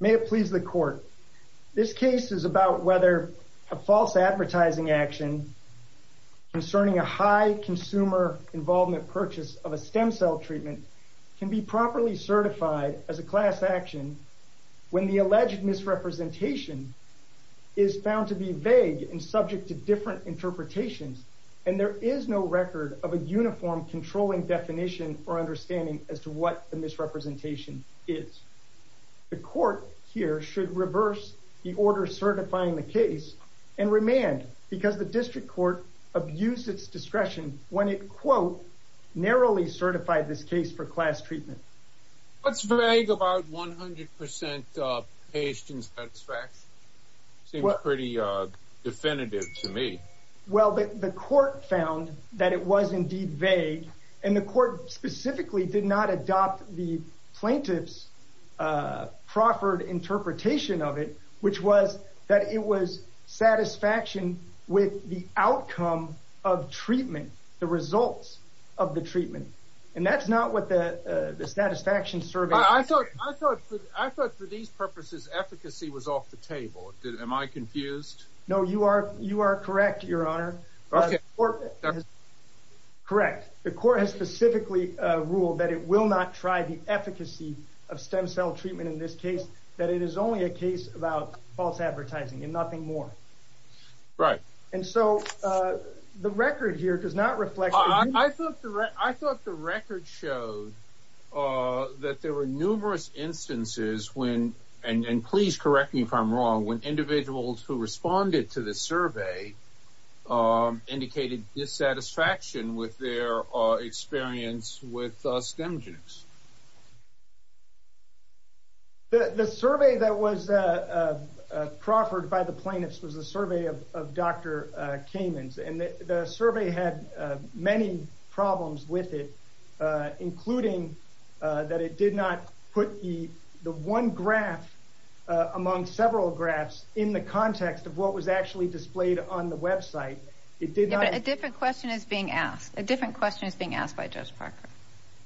May it please the court this case is about whether a false advertising action concerning a high consumer involvement purchase of a stem cell treatment can be properly certified as a class action when the alleged misrepresentation is found to be vague and subject to different interpretations and there is no record of a uniform controlling definition or understanding as to what the misrepresentation is the court here should reverse the order certifying the case and remand because the district court abused its discretion when it quote narrowly certified this case for class treatment what's vague about 100 patient satisfaction seems pretty uh definitive to me well the court found that it was indeed vague and the court specifically did not adopt the plaintiff's proffered interpretation of it which was that it was satisfaction with the outcome of treatment the results of the treatment and that's not what the the satisfaction survey i thought i thought i thought for these purposes efficacy was off the table am i confused no you are you are correct your honor okay or correct the court has specifically uh ruled that it will not try the efficacy of stem cell treatment in this case that it is only a case about false advertising and nothing more right and so uh the record here does not reflect i thought i thought the record showed uh that there were numerous instances when and and please correct me if i'm wrong when indicated dissatisfaction with their experience with stem genes the the survey that was uh uh proffered by the plaintiffs was a survey of of dr uh caymans and the survey had uh many problems with it uh including uh that it did not put the the one graph among several graphs in the context of what was actually displayed on the website it did not a different question is being asked a different question is being asked by judge parker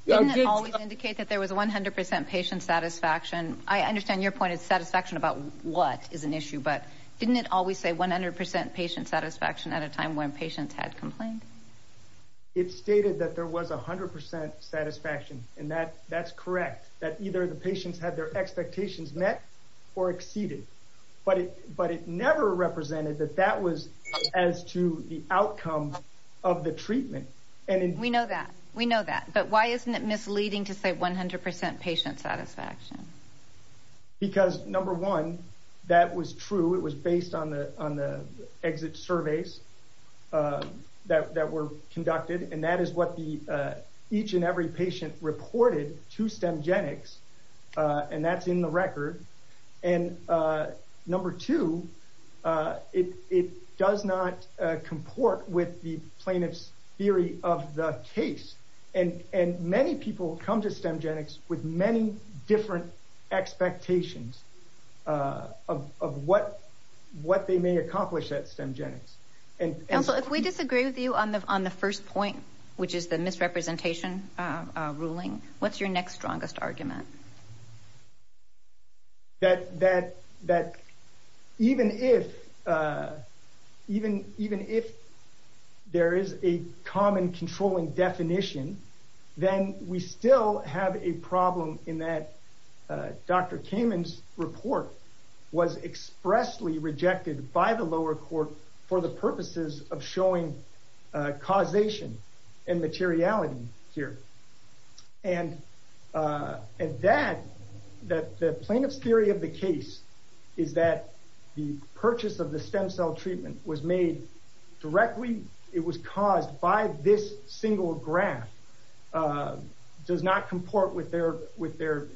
didn't it always indicate that there was 100 patient satisfaction i understand your point is satisfaction about what is an issue but didn't it always say 100 patient satisfaction at a time when patients had complained it stated that there was a hundred percent satisfaction and that that's met or exceeded but it but it never represented that that was as to the outcome of the treatment and we know that we know that but why isn't it misleading to say 100 patient satisfaction because number one that was true it was based on the on the exit surveys uh that that were conducted and that is what the uh each and every patient reported to stem genics uh and that's in the record and uh number two uh it it does not uh comport with the plaintiff's theory of the case and and many people come to stem genics with many different expectations uh of of what what they may accomplish at stem genics and also if we disagree with you on the on the first point which is the misrepresentation uh ruling what's your next strongest argument that that that even if uh even even if there is a common controlling definition then we still have a problem in that uh dr cayman's report was expressly rejected by the lower court for the purposes of showing causation and materiality here and uh and that that the plaintiff's theory of the case is that the purchase of the stem cell treatment was made directly it was caused by this single graph uh does not comport with their with their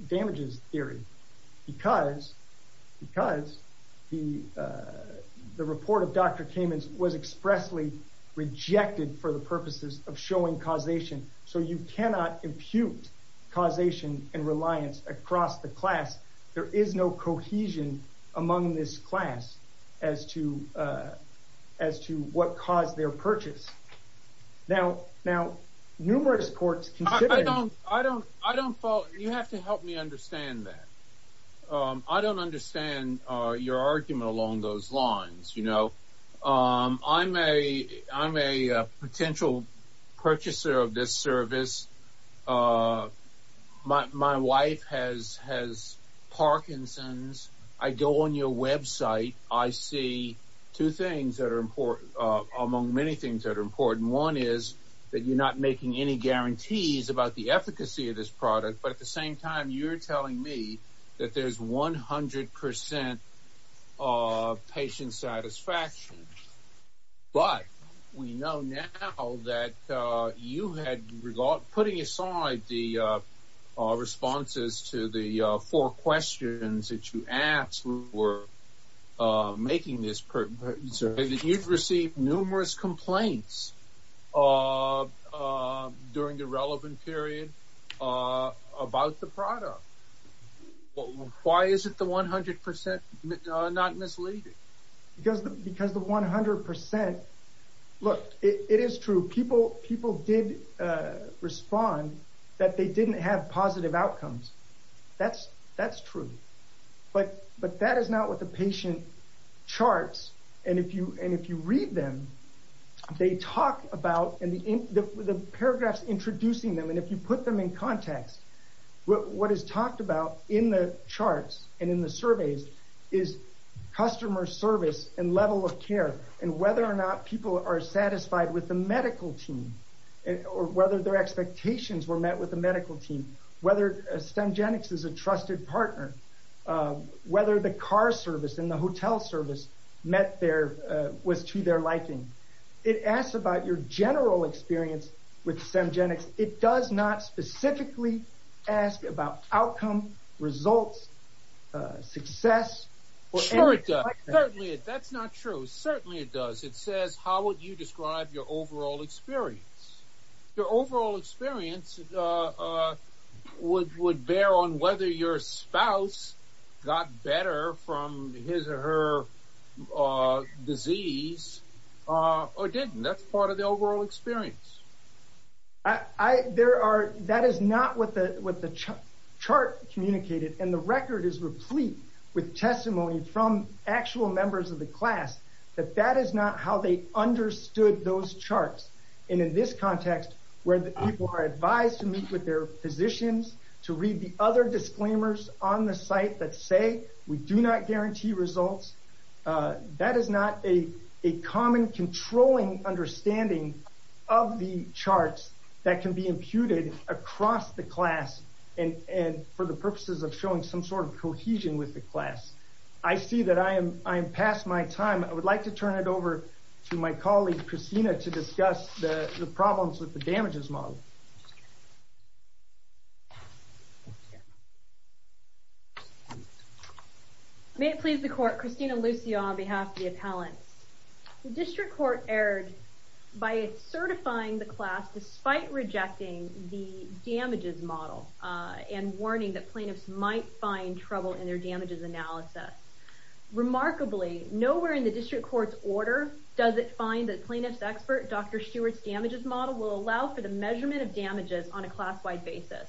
expressly rejected for the purposes of showing causation so you cannot impute causation and reliance across the class there is no cohesion among this class as to uh as to what caused their purchase now now numerous courts i don't i don't i don't fall you have to help me understand that um i don't understand uh your argument along those lines you know um i'm a i'm a potential purchaser of this service uh my my wife has has parkinson's i go on your website i see two things that are important uh among many things that are important one is that you're not making any guarantees about the efficacy of this product but at the same time you're telling me that there's 100 percent of patient satisfaction but we know now that uh you had regard putting aside the uh uh responses to the uh four questions that you asked were uh making this so that you've received numerous complaints uh uh during the relevant period uh about the product why is it the 100 percent not misleading because because the 100 percent look it is true people people did uh respond that they didn't have positive outcomes that's that's true but but that is not what the patient charts and if you and if you read them they talk about and the the paragraphs introducing them and if you put them in context what is talked about in the charts and in the surveys is customer service and level of care and whether or not people are satisfied with the medical team and or whether their expectations were met with the medical team whether stemgenics is a trusted partner uh whether the car service and the hotel service met their uh was to their liking it asks about your general experience with stemgenics it does not specifically ask about outcome results uh success that's not true certainly it does it says how would you describe your overall experience your overall experience uh uh would would bear on whether your spouse got better from his or her uh disease uh or didn't that's part of the overall experience i i there are that is not what the what the chart communicated and the record is replete with testimony from actual members of the class that that is not how they understood those charts and in this context where the people are advised to meet with their physicians to read the other disclaimers on the site that say we do not guarantee results uh that is not a a common controlling understanding of the charts that can be imputed across the class and and for the purposes of showing some sort of cohesion with the class i see that i am i am past my time i would like to turn it over to my colleague christina to discuss the the problems with the damages model may it please the court christina lucia on behalf of the appellants the district court erred by certifying the class despite rejecting the damages model uh and that plaintiffs might find trouble in their damages analysis remarkably nowhere in the district court's order does it find that plaintiff's expert dr stewart's damages model will allow for the measurement of damages on a class-wide basis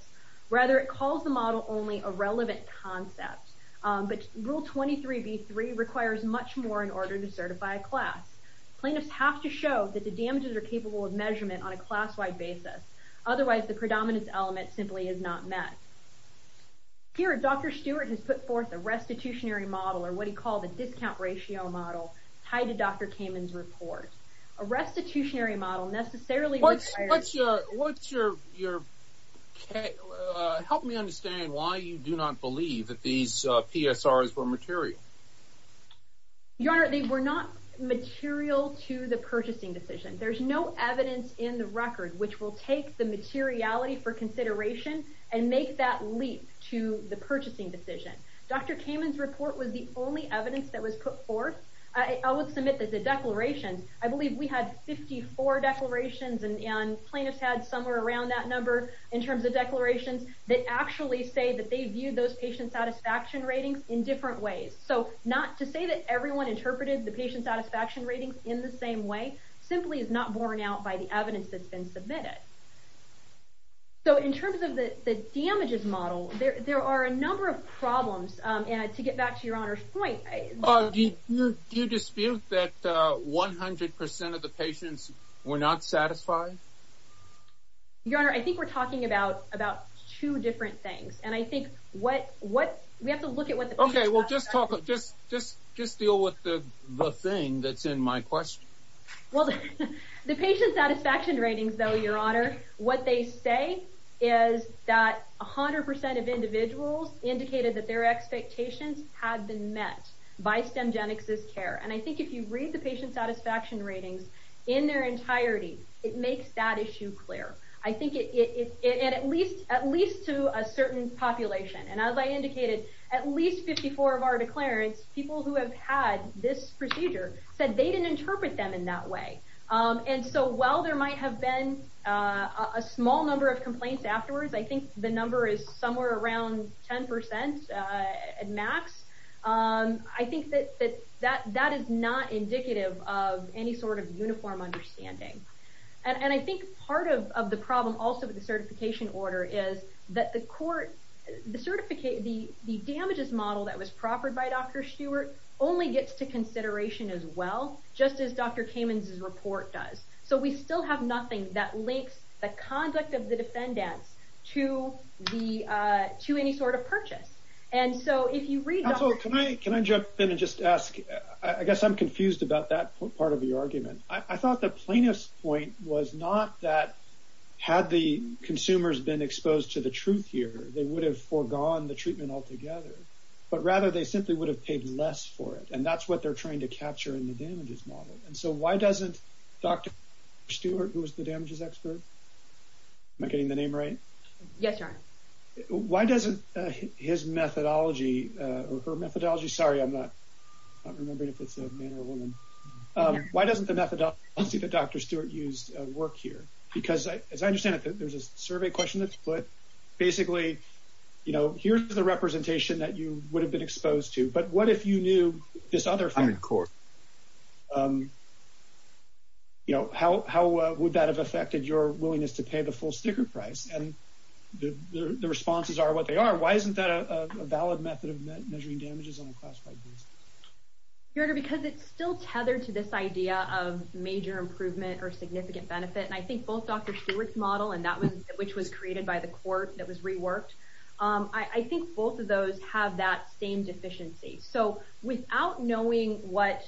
rather it calls the model only a relevant concept but rule 23b3 requires much more in order to certify a class plaintiffs have to show that the damages are capable of measurement on a class-wide basis otherwise the predominant element simply is not met here dr stewart has put forth a restitutionary model or what he called the discount ratio model tied to dr cayman's report a restitutionary model necessarily what's what's your what's your your okay uh help me understand why you do not believe that these uh psrs were material your honor they were not material to the purchasing decision there's no evidence in the record which will take the materiality for consideration and make that leap to the purchasing decision dr cayman's report was the only evidence that was put forth i would submit that the declarations i believe we had 54 declarations and plaintiffs had somewhere around that number in terms of declarations that actually say that they viewed those patient satisfaction ratings in different ways so not to say that everyone interpreted the patient satisfaction ratings in the same way simply is not borne out by the evidence that's been submitted so in terms of the the damages model there there are a number of problems um and to get back to your honor's point do you dispute that uh one hundred percent of the patients were not satisfied your honor i think we're talking about about two different things and i think what what we have to look at what the okay we'll just talk just just just deal with the the thing that's in my question well the patient satisfaction ratings though your honor what they say is that a hundred percent of individuals indicated that their expectations had been met by stemgenesis care and i think if you read the patient satisfaction ratings in their entirety it makes that issue clear i think it it it at least at least to a certain population and as i indicated at least 54 of our declarants people who have had this procedure said they didn't interpret them in that way um and so while there might have been a small number of complaints afterwards i think the number is somewhere around 10 percent uh at max um i think that that that is not indicative of any sort of uniform understanding and and i think part of of the problem also with the certification order is that the court the certificate the the damages model that was proffered by dr stewart only gets to consideration as well just as dr cayman's report does so we still have nothing that links the conduct of the defendants to the uh to any sort and so if you read also can i can i jump in and just ask i guess i'm confused about that part of the argument i thought the plaintiff's point was not that had the consumers been exposed to the truth here they would have foregone the treatment altogether but rather they simply would have paid less for it and that's what they're trying to capture in the damages model and so why doesn't stewart who was the damages expert am i getting the name right yes why doesn't his methodology uh her methodology sorry i'm not not remembering if it's a man or a woman um why doesn't the methodology that dr stewart used work here because i as i understand it there's a survey question that's put basically you know here's the representation that you would have been you know how how would that have affected your willingness to pay the full sticker price and the the responses are what they are why isn't that a valid method of measuring damages on a classified basis your honor because it's still tethered to this idea of major improvement or significant benefit and i think both dr stewart's model and that was which was created by the court that was reworked um i i think both of those have that same deficiency so without knowing what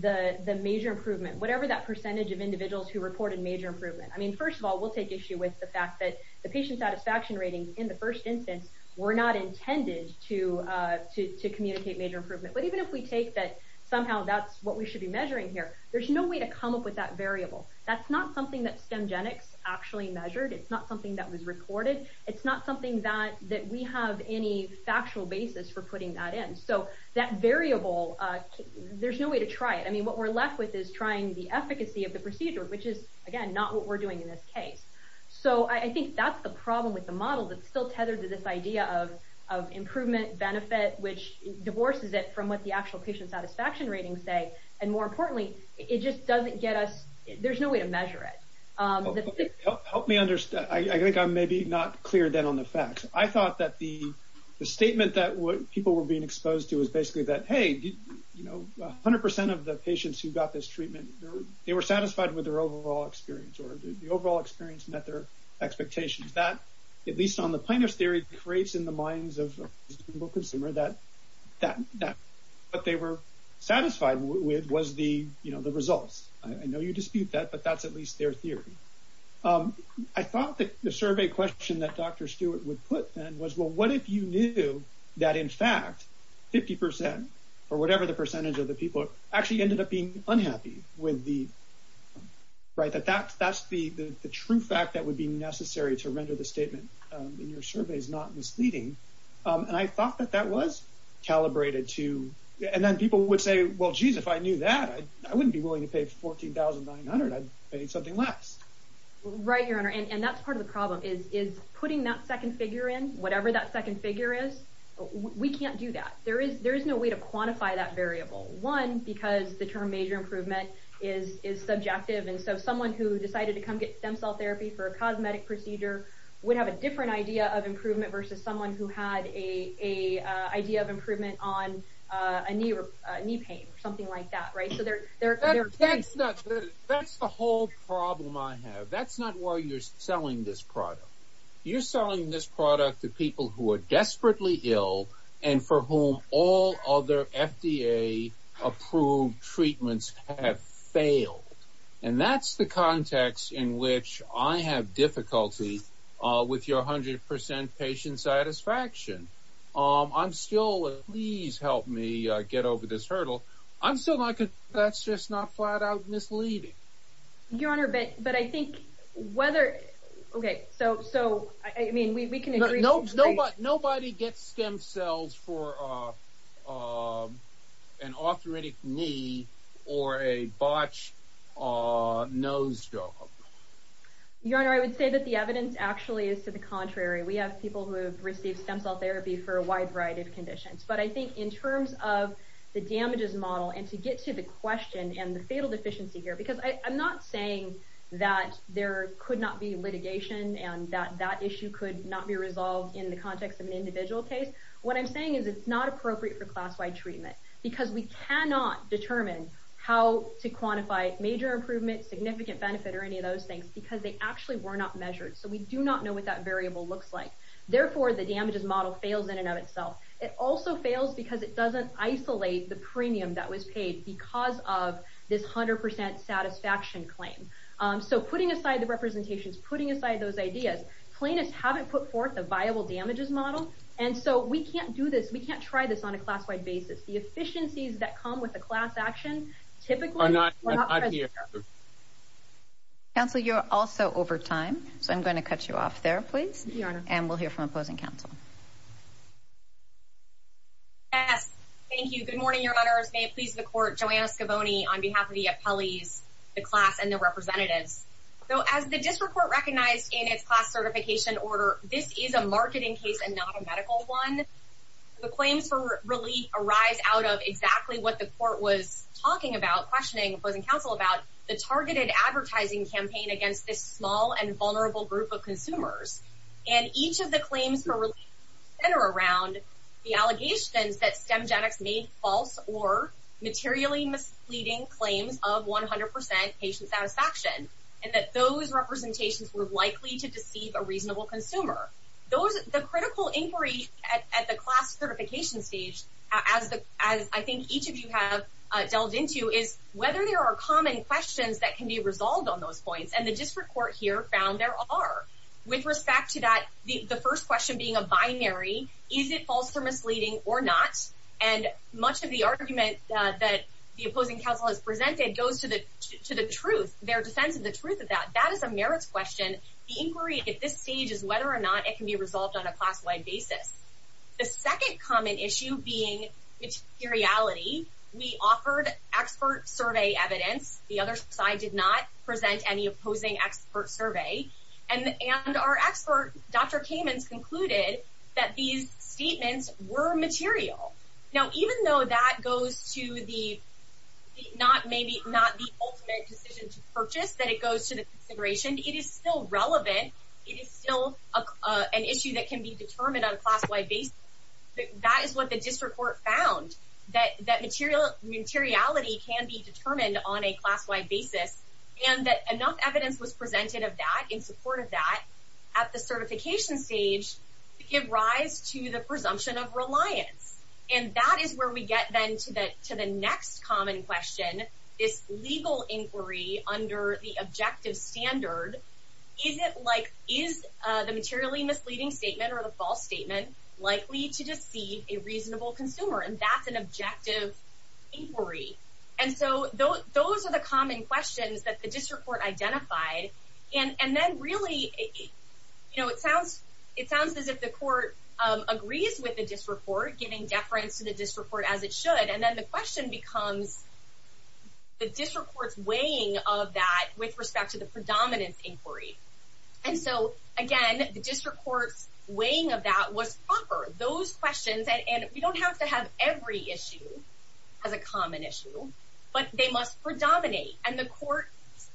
the the major improvement whatever that percentage of individuals who reported major improvement i mean first of all we'll take issue with the fact that the patient satisfaction ratings in the first instance were not intended to uh to to communicate major improvement but even if we take that somehow that's what we should be measuring here there's no way to come up with that variable that's not something that stemgenics actually measured it's not something that was recorded it's not something that that we have any factual basis for putting that in so that variable uh there's no way to trying the efficacy of the procedure which is again not what we're doing in this case so i think that's the problem with the model that's still tethered to this idea of of improvement benefit which divorces it from what the actual patient satisfaction ratings say and more importantly it just doesn't get us there's no way to measure it um help me understand i think i'm maybe not clear then on the facts i thought that the the statement that what people were being exposed to basically that hey you know 100 of the patients who got this treatment they were satisfied with their overall experience or the overall experience met their expectations that at least on the plaintiff's theory creates in the minds of a consumer that that that what they were satisfied with was the you know the results i know you dispute that but that's at least their theory i thought that the survey question that dr stewart would put then was well what if you knew that in fact 50 percent or whatever the percentage of the people actually ended up being unhappy with the right that that's that's the the true fact that would be necessary to render the statement um in your survey is not misleading um and i thought that that was calibrated to and then people would say well jeez if i knew that i wouldn't be willing to pay 14 900 i'd pay something less right your honor and that's part of the problem is is putting that second figure in whatever that second figure is we can't do that there is there is no way to quantify that variable one because the term major improvement is is subjective and so someone who decided to come get stem cell therapy for a cosmetic procedure would have a different idea of improvement versus someone who had a a idea of improvement on uh a knee knee pain or something like that right so they're they're that's not that's the whole problem i have that's not why you're selling this product you're selling this product to people who are desperately ill and for whom all other fda approved treatments have failed and that's the context in which i have difficulty uh with your hundred percent patient satisfaction um i'm still please help me uh get over this hurdle i'm still like that's just not flat out misleading your honor but but i think whether okay so so i mean we can agree no no but nobody gets stem cells for uh uh an arthritic knee or a botched uh nose job your honor i would say that the evidence actually is to the contrary we have people who have received stem cell therapy for a wide variety of conditions but i think in terms of the damages model and to get to the question and the fatal deficiency here because i'm not saying that there could not be litigation and that that issue could not be resolved in the context of an individual case what i'm saying is it's not appropriate for class-wide treatment because we cannot determine how to quantify major improvement significant benefit or any of those things because they actually were not measured so we do not know what that variable looks like therefore the damages model fails in and of itself it also fails because it doesn't isolate the premium that was paid because of this 100 satisfaction claim so putting aside the representations putting aside those ideas plaintiffs haven't put forth a viable damages model and so we can't do this we can't try this on a class-wide basis the efficiencies that come with the class action typically are not here counsel you're also over time so i'm going to cut you off there please your honor and we'll hear from opposing counsel yes thank you good morning your honors may it please the court joanna scaboni on behalf of the appellees the class and the representatives so as the district court recognized in its class certification order this is a marketing case and not a medical one the claims for relief arise out of exactly what the court was talking about questioning opposing counsel about the targeted advertising campaign against this small and vulnerable group of consumers and each of the claims for relief center around the allegations that stem genetics made false or materially misleading claims of 100 percent patient satisfaction and that those representations were likely to deceive a reasonable consumer those the critical inquiry at the class certification stage as the as i think each of you have delved into is whether there are common questions that can be resolved on those points and the district court here found there are with respect to that the the first question being a binary is it false or misleading or not and much of the argument that the opposing counsel has presented goes to the to the truth their defense of the truth of that that is a merits question the inquiry at this stage is whether or not it can be resolved on a class-wide basis the second common issue being materiality we offered expert survey evidence the other side did not present any opposing expert survey and and our expert dr caymans concluded that these statements were material now even though that goes to the not maybe not the ultimate decision to purchase that it goes to the consideration it is still relevant it is still an issue that can be determined on a class-wide basis that is what the district court found that that material materiality can be determined on a class-wide basis and that enough evidence was presented of that in support of that at the certification stage to give rise to the presumption of reliance and that is where we get then to the to the next common question this legal inquiry under the objective standard is it like is uh the materially misleading statement or the false statement likely to deceive a reasonable consumer and that's an objective inquiry and so those are the common questions that the district court identified and and then really you know it sounds it sounds as if the court agrees with the district court giving deference to the district court as it should and then the question becomes the district court's weighing of that with respect to the those questions and and we don't have to have every issue as a common issue but they must predominate and the court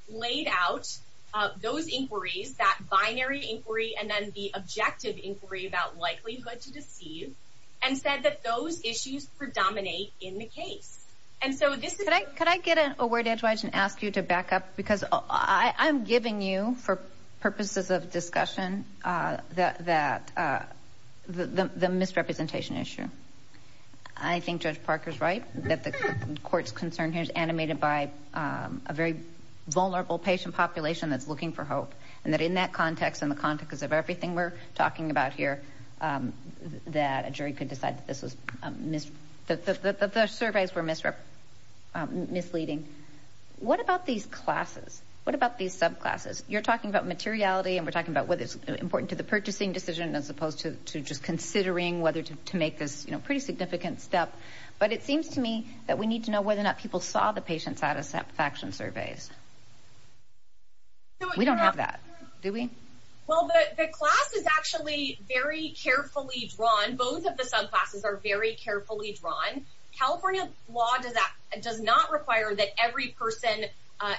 laid out uh those inquiries that binary inquiry and then the objective inquiry about likelihood to deceive and said that those issues predominate in the case and so this could i could i get a word edgewise and ask you to back up because i i'm giving you for purposes of discussion uh that that uh the the misrepresentation issue i think judge parker's right that the court's concern here is animated by um a very vulnerable patient population that's looking for hope and that in that context in the context of everything we're talking about here that a jury could decide that this was a miss that the the surveys were misrep misleading what about these classes what about these subclasses you're talking about materiality and we're talking about whether it's important to the purchasing decision as opposed to to just considering whether to make this you know pretty significant step but it seems to me that we need to know whether or not people saw the patient satisfaction surveys we don't have that do we well the class is actually very carefully drawn both of the subclasses are very carefully drawn california law does that does not require that every person uh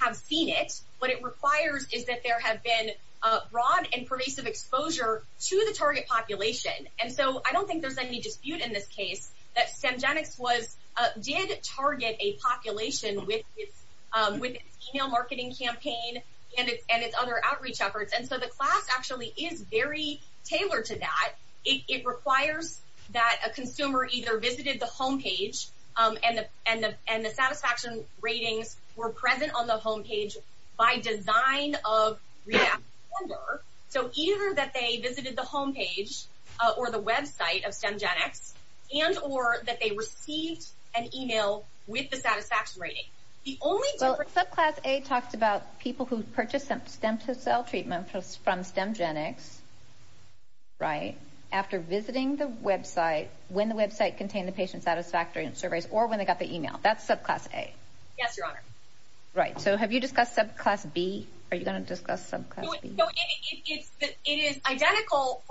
have seen it what it requires is that there have been uh broad and pervasive exposure to the target population and so i don't think there's any dispute in this case that stemgenics was uh did target a population with its um with its email marketing campaign and its and its other outreach efforts and so the class actually is very tailored to that it requires that a consumer either visited the home page um and the and the and the satisfaction ratings were present on the home page by design of so either that they visited the home page or the website of stemgenics and or that they received an email with the satisfaction rating the only subclass a talked about people who purchased stem to cell treatment from stemgenics right after visiting the website when the website contained the patient satisfactory and surveys or when they got the email that's subclass a yes your honor right so have you discussed subclass b are you going to discuss subclass it is identical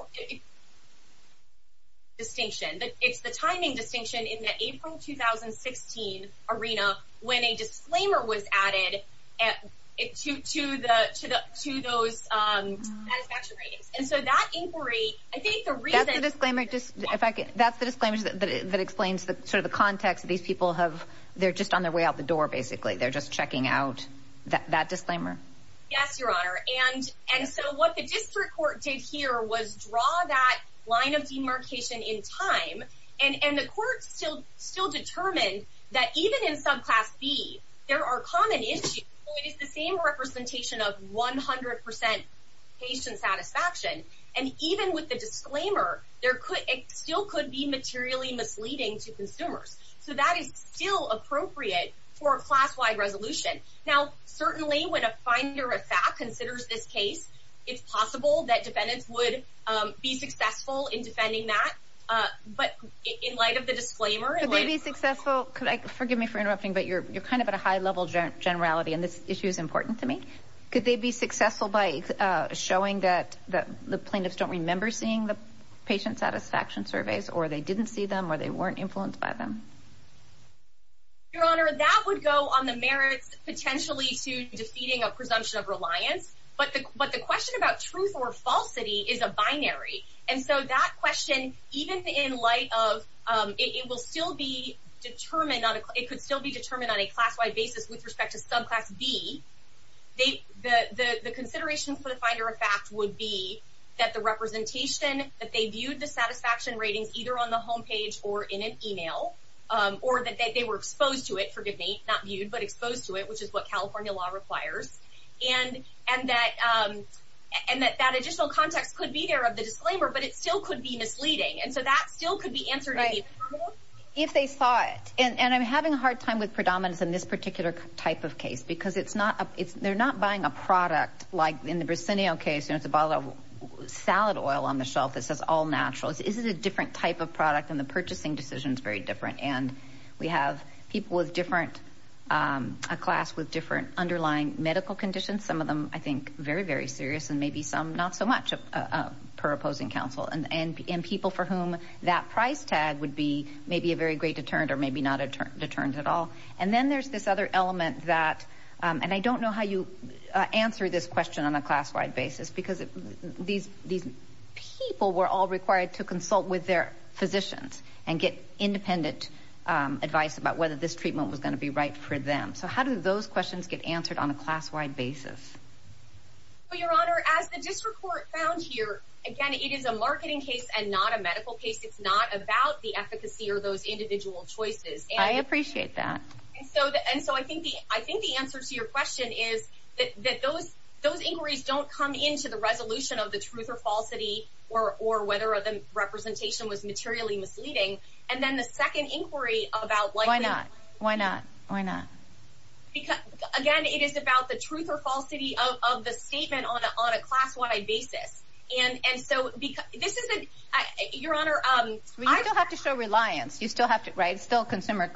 distinction but it's the timing distinction in the april 2016 arena when a disclaimer was added at it to to the to the to those um satisfaction ratings and so that inquiry i think the reason disclaimer just in fact that's the disclaimer that explains the sort of the context these people have they're just on their way out the door basically they're just checking out that that disclaimer yes your honor and and so what the district court did here was draw that line of demarcation in time and and the court still still determined that even in subclass b there are common issues it is the same representation of 100 patient satisfaction and even with the disclaimer there could it still could be materially misleading to consumers so that is still appropriate for a class-wide resolution now certainly when a finder of fact considers this it's possible that defendants would um be successful in defending that uh but in light of the disclaimer could they be successful could i forgive me for interrupting but you're you're kind of at a high level generality and this issue is important to me could they be successful by showing that that the plaintiffs don't remember seeing the patient satisfaction surveys or they didn't see them or they weren't influenced by them your honor that would go on merits potentially to defeating a presumption of reliance but the but the question about truth or falsity is a binary and so that question even in light of um it will still be determined on it could still be determined on a class-wide basis with respect to subclass b they the the the considerations for the finder of fact would be that the representation that they viewed the satisfaction ratings either on the home page or in an email um or that they were exposed to it not viewed but exposed to it which is what california law requires and and that um and that that additional context could be there of the disclaimer but it still could be misleading and so that still could be answered if they saw it and i'm having a hard time with predominance in this particular type of case because it's not a it's they're not buying a product like in the briseno case you know it's a bottle of salad oil on the shelf that says all natural is it a different type of product and the purchasing decision is very different and we have people with different a class with different underlying medical conditions some of them i think very very serious and maybe some not so much per opposing counsel and and people for whom that price tag would be maybe a very great deterrent or maybe not a deterrent at all and then there's this other element that um and i don't know how you answer this question on a class-wide basis because these these people were all required to consult with their physicians and get independent advice about whether this treatment was going to be right for them so how do those questions get answered on a class-wide basis your honor as the district court found here again it is a marketing case and not a medical case it's not about the efficacy or those individual choices i appreciate that and so and so i think the i think the answer to your question is that that those those inquiries don't come into the resolution of the truth or falsity or or whether the representation was materially misleading and then the second inquiry about why not why not why not because again it is about the truth or falsity of the statement on on a class-wide basis and and so because this isn't your honor um i don't have to show reliance you still have to write still consumer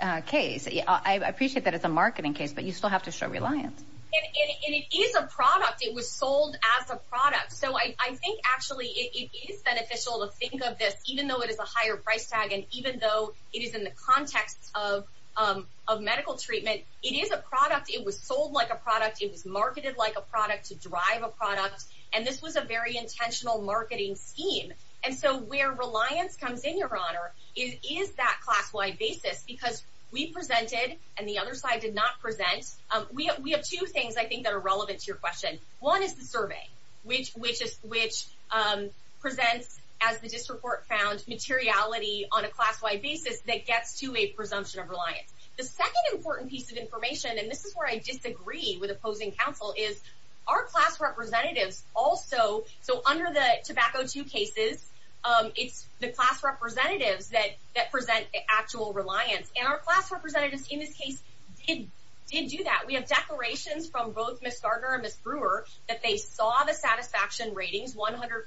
uh case i appreciate that it's a marketing case but you still have to show reliance and it is a product it was sold as a product so i i think actually it is beneficial to think of this even though it is a higher price tag and even though it is in the context of um of medical treatment it is a product it was sold like a product it was marketed like a product to drive a product and this was a very intentional marketing scheme and so where reliance comes in your honor it is that class-wide basis because we presented and the other side did not present um we have two things i think that are relevant to your question one is the survey which which is which um presents as the district court found materiality on a class-wide basis that gets to a presumption of reliance the second important piece of information and this is where i disagree with opposing counsel is our class representatives also so under the tobacco two cases um it's the class representatives that that present actual reliance and our class representatives in this case did did do that we have declarations from both miss garter and miss brewer that they saw the satisfaction ratings 100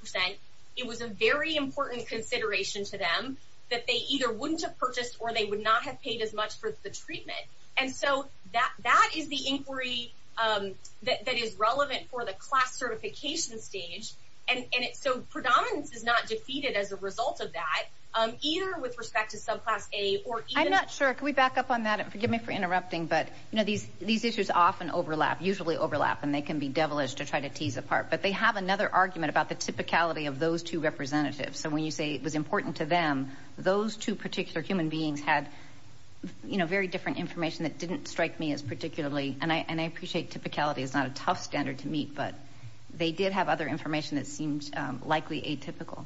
it was a very important consideration to them that they either wouldn't have purchased or they would not have paid as much for the treatment and so that that is the inquiry um that is relevant for the class certification stage and and it's so predominance is not defeated as a result of that um either with respect to subclass a or i'm not sure can we back up on that and forgive me for interrupting but you know these these issues often overlap usually overlap and they can be devilish to try to tease apart but they have another argument about the typicality of those two representatives so when you say it was important to them those two particular human beings had you know very different information that didn't strike me as particularly and i and i appreciate typicality is not a tough standard to meet but they did have other information that seemed likely atypical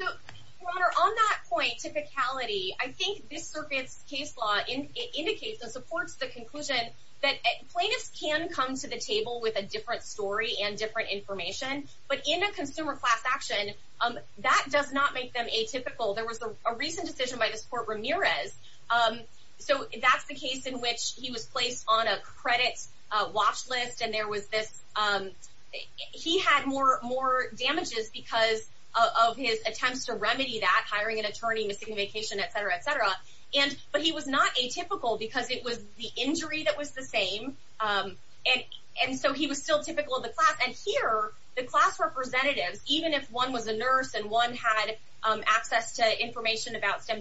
so on that point typicality i think this surface case law in indicates and supports the conclusion that plaintiffs can come to the table with a different story and different information but in a consumer class action um that does not make them atypical there was a recent decision by the support ramirez um so that's the case in which he was placed on a credit watch list and there was this um he had more more damages because of his attempts to remedy that hiring an attorney missing vacation etc etc and but he was not atypical because it was the injury that was the same um and and so he was still typical of the class and here the class representatives even if one was a nurse and one had um access to information about stem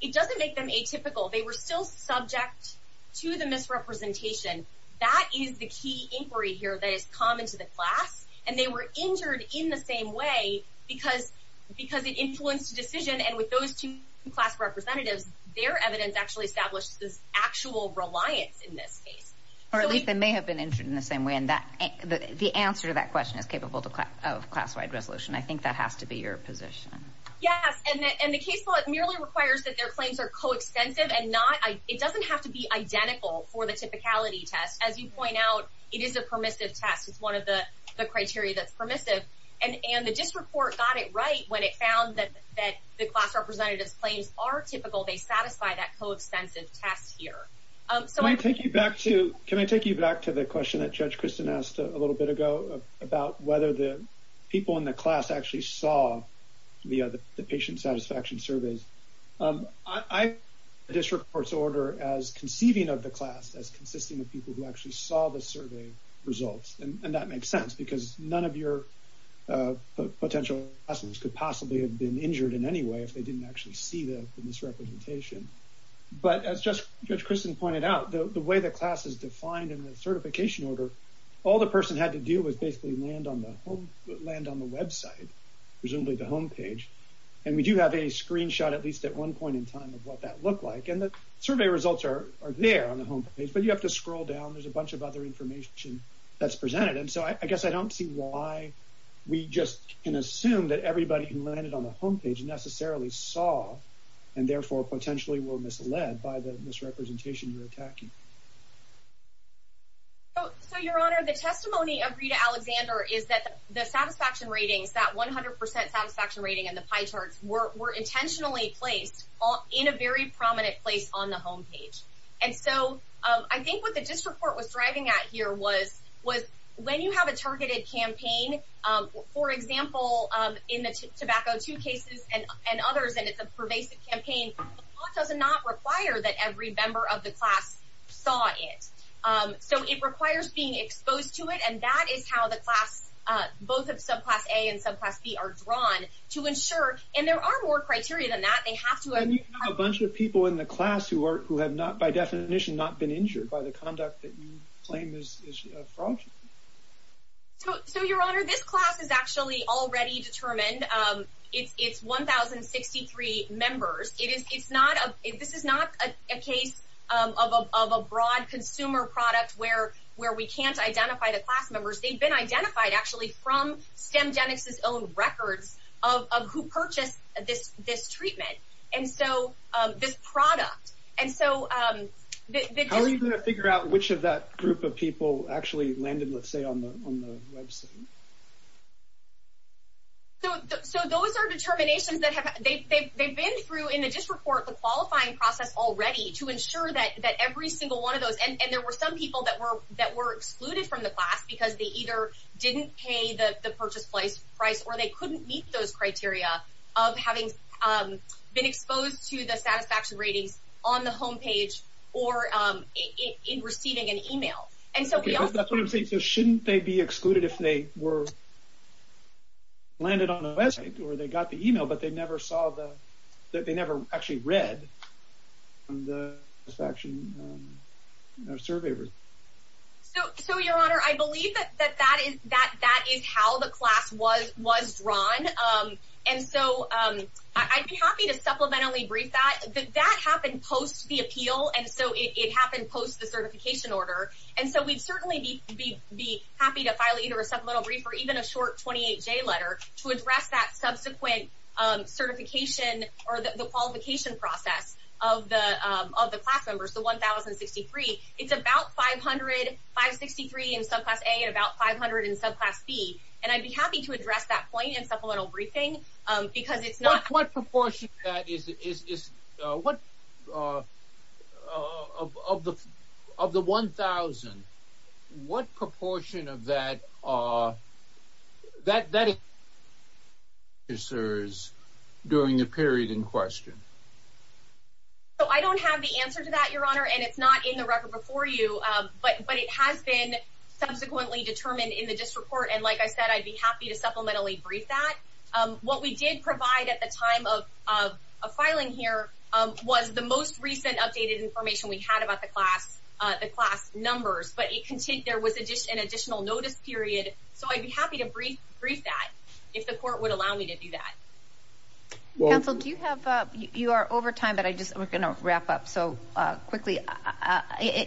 it doesn't make them atypical they were still subject to the misrepresentation that is the key inquiry here that is common to the class and they were injured in the same way because because it influenced the decision and with those two class representatives their evidence actually established this actual reliance in this case or at least they may have been injured in the same way and that the the answer to that question is capable to clap of class-wide resolution i think that has to be your position yes and the case law merely requires that their claims are co-extensive and not i it doesn't have to be identical for the typicality test as you point out it is a permissive test it's one of the the criteria that's permissive and and the district court got it right when it found that that the class representatives claims are typical they satisfy that co-extensive test here um so i take you back to can i take you back to the question that judge kristen asked a little bit ago about whether the people in the class actually saw the other the patient satisfaction surveys um i district court's order as conceiving of the class as consisting of people who actually saw the survey results and that makes sense because none of your uh potential lessons could possibly have been injured in any way if they didn't actually see the misrepresentation but as just judge kristen pointed out the the way the class is defined in the certification order all the person had to do was basically land on the home land on the website presumably the home page and we do have a screenshot at least at one point in time of what that looked like and the survey results are there on the home page but you have to scroll down there's a bunch of other information that's presented and so i guess i don't see why we just can assume that everybody who landed on the home page necessarily saw and therefore potentially will mislead by the misrepresentation you're attacking so your honor the testimony of rita alexander is that the satisfaction ratings that 100 satisfaction rating and the pie charts were were intentionally placed all in a very prominent place on the home page and so i think what the district court was driving at here was was when you have a targeted campaign um for example um in the tobacco two and others and it's a pervasive campaign does not require that every member of the class saw it um so it requires being exposed to it and that is how the class uh both of subclass a and subclass b are drawn to ensure and there are more criteria than that they have to have a bunch of people in the class who are who have not by definition not been injured by the conduct that you claim is from so your honor this class is actually already determined um it's it's 1063 members it is it's not a this is not a case of a broad consumer product where where we can't identify the class members they've been identified actually from stem genesis own records of of who purchased this this treatment and so uh this product and so um how are you going to figure out which of that group of people actually landed let's say on the on the website so those are determinations that have they've been through in the district court the qualifying process already to ensure that that every single one of those and and there were some people that were that were excluded from the class because they either didn't pay the the purchase price price or they couldn't meet those criteria of having um been exposed to the satisfaction ratings on the home page or um in receiving an email and so that's what i'm saying so shouldn't they be excluded if they were landed on the website or they got the email but they never saw the that they never actually read the satisfaction survey so so your honor i believe that that that is that that is how the class was was drawn um and so um i'd be happy to supplementally brief that that happened post the appeal and so it happened post the certification order and so we'd certainly be be happy to file either a supplemental brief or even a short 28 j letter to address that subsequent um certification or the qualification process of the um of the class members the 1063 it's about 500 563 in subclass a and about 500 in subclass b and i'd be happy to address that point in supplemental briefing um because it's not what proportion that is is is uh what uh of of the of the 1000 what proportion of that uh that that is during the period in question so i don't have the answer to that your honor and it's not in the record before you um but but it has been subsequently determined in the district and like i said i'd be happy to supplementally brief that um what we did provide at the time of of a filing here um was the most recent updated information we had about the class uh the class numbers but it contained there was addition additional notice period so i'd be happy to brief brief that if the court would allow me to do that counsel do you have uh you are over time but i just we're going to wrap up so uh quickly all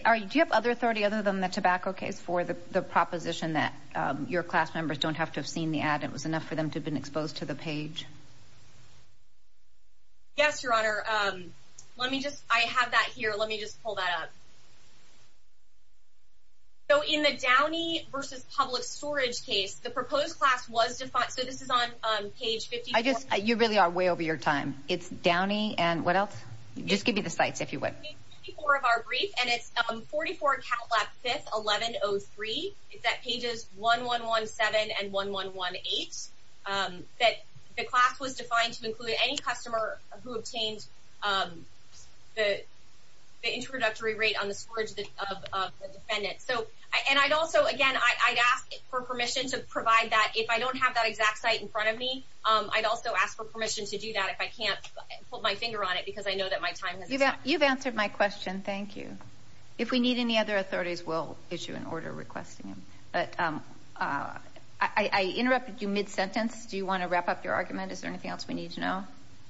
right do you have other authority other than the tobacco case for the the proposition that um your class members don't have to have seen the ad it was enough for them to have been exposed to the page yes your honor um let me just i have that here let me just pull that up so in the downy versus public storage case the proposed class was defined so this is on um page 50 i just you really are way over your time it's downy and what else just give me the sites if you would be part of our brief and it's um 44 cat lap 5th 1103 it's at pages 1 1 1 7 and 1 1 1 8 um that the class was defined to include any customer who obtained um the the introductory rate on the storage of the defendant so i and i'd also again i i'd ask for permission to provide that if i don't have that exact site in front of me um i'd also ask for permission to do that if i can't put my finger on it because i know that my time you've answered my question thank you if we need any other authorities we'll issue an order requesting them but um uh i i interrupted you mid-sentence do you want to wrap up your argument is there anything else we need to know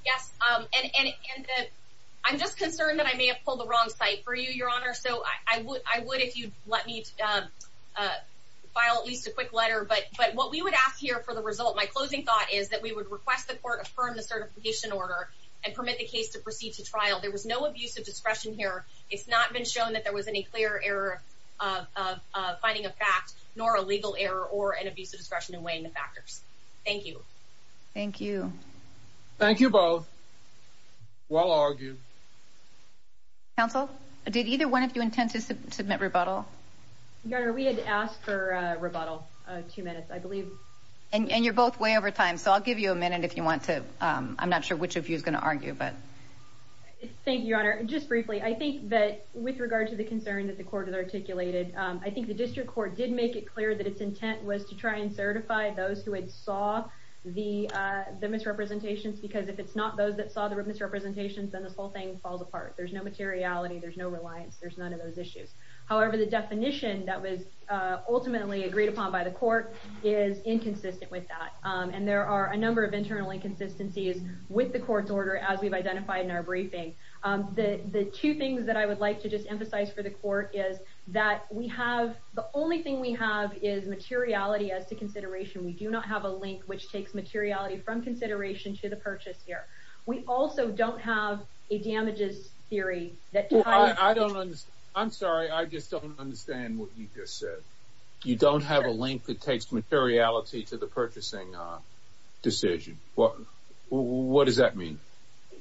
yes um and and i'm just concerned that i may have pulled the wrong site for you your honor so i would i would if you'd let me um uh file at least a quick letter but but what we would ask here for the result my closing thought is that we would request the court affirm the certification order and permit the case to proceed to trial there was no abuse of discretion here it's not been shown that there was any clear error of uh finding a fact nor a legal error or an abuse of discretion in weighing the factors thank you thank you thank you both well argued counsel did either one of you intend to submit rebuttal your honor we had asked for a i believe and you're both way over time so i'll give you a minute if you want to um i'm not sure which of you is going to argue but thank you your honor just briefly i think that with regard to the concern that the court has articulated um i think the district court did make it clear that its intent was to try and certify those who had saw the uh the misrepresentations because if it's not those that saw the misrepresentations then this whole thing falls apart there's no materiality there's no reliance there's none of those issues however the definition that was uh ultimately agreed upon by the court is inconsistent with that um and there are a number of internal inconsistencies with the court's order as we've identified in our briefing um the the two things that i would like to just emphasize for the court is that we have the only thing we have is materiality as to consideration we do not have a link which takes materiality from consideration to the purchase here we also don't have a damages theory that i don't understand i'm sorry i just understand what you just said you don't have a link that takes materiality to the purchasing uh decision what what does that mean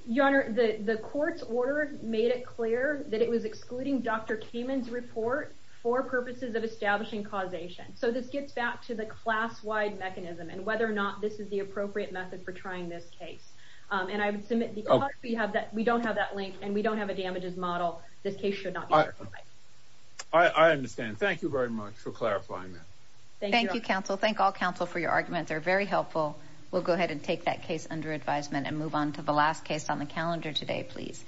your honor the the court's order made it clear that it was excluding dr cayman's report for purposes of establishing causation so this gets back to the class-wide mechanism and whether or not this is the appropriate method for trying this case and i would submit because we have that we don't have that link and we don't have a damages model this case should not be i understand thank you very much for clarifying that thank you counsel thank all counsel for your arguments are very helpful we'll go ahead and take that case under advisement and move on to the last case on the calendar today please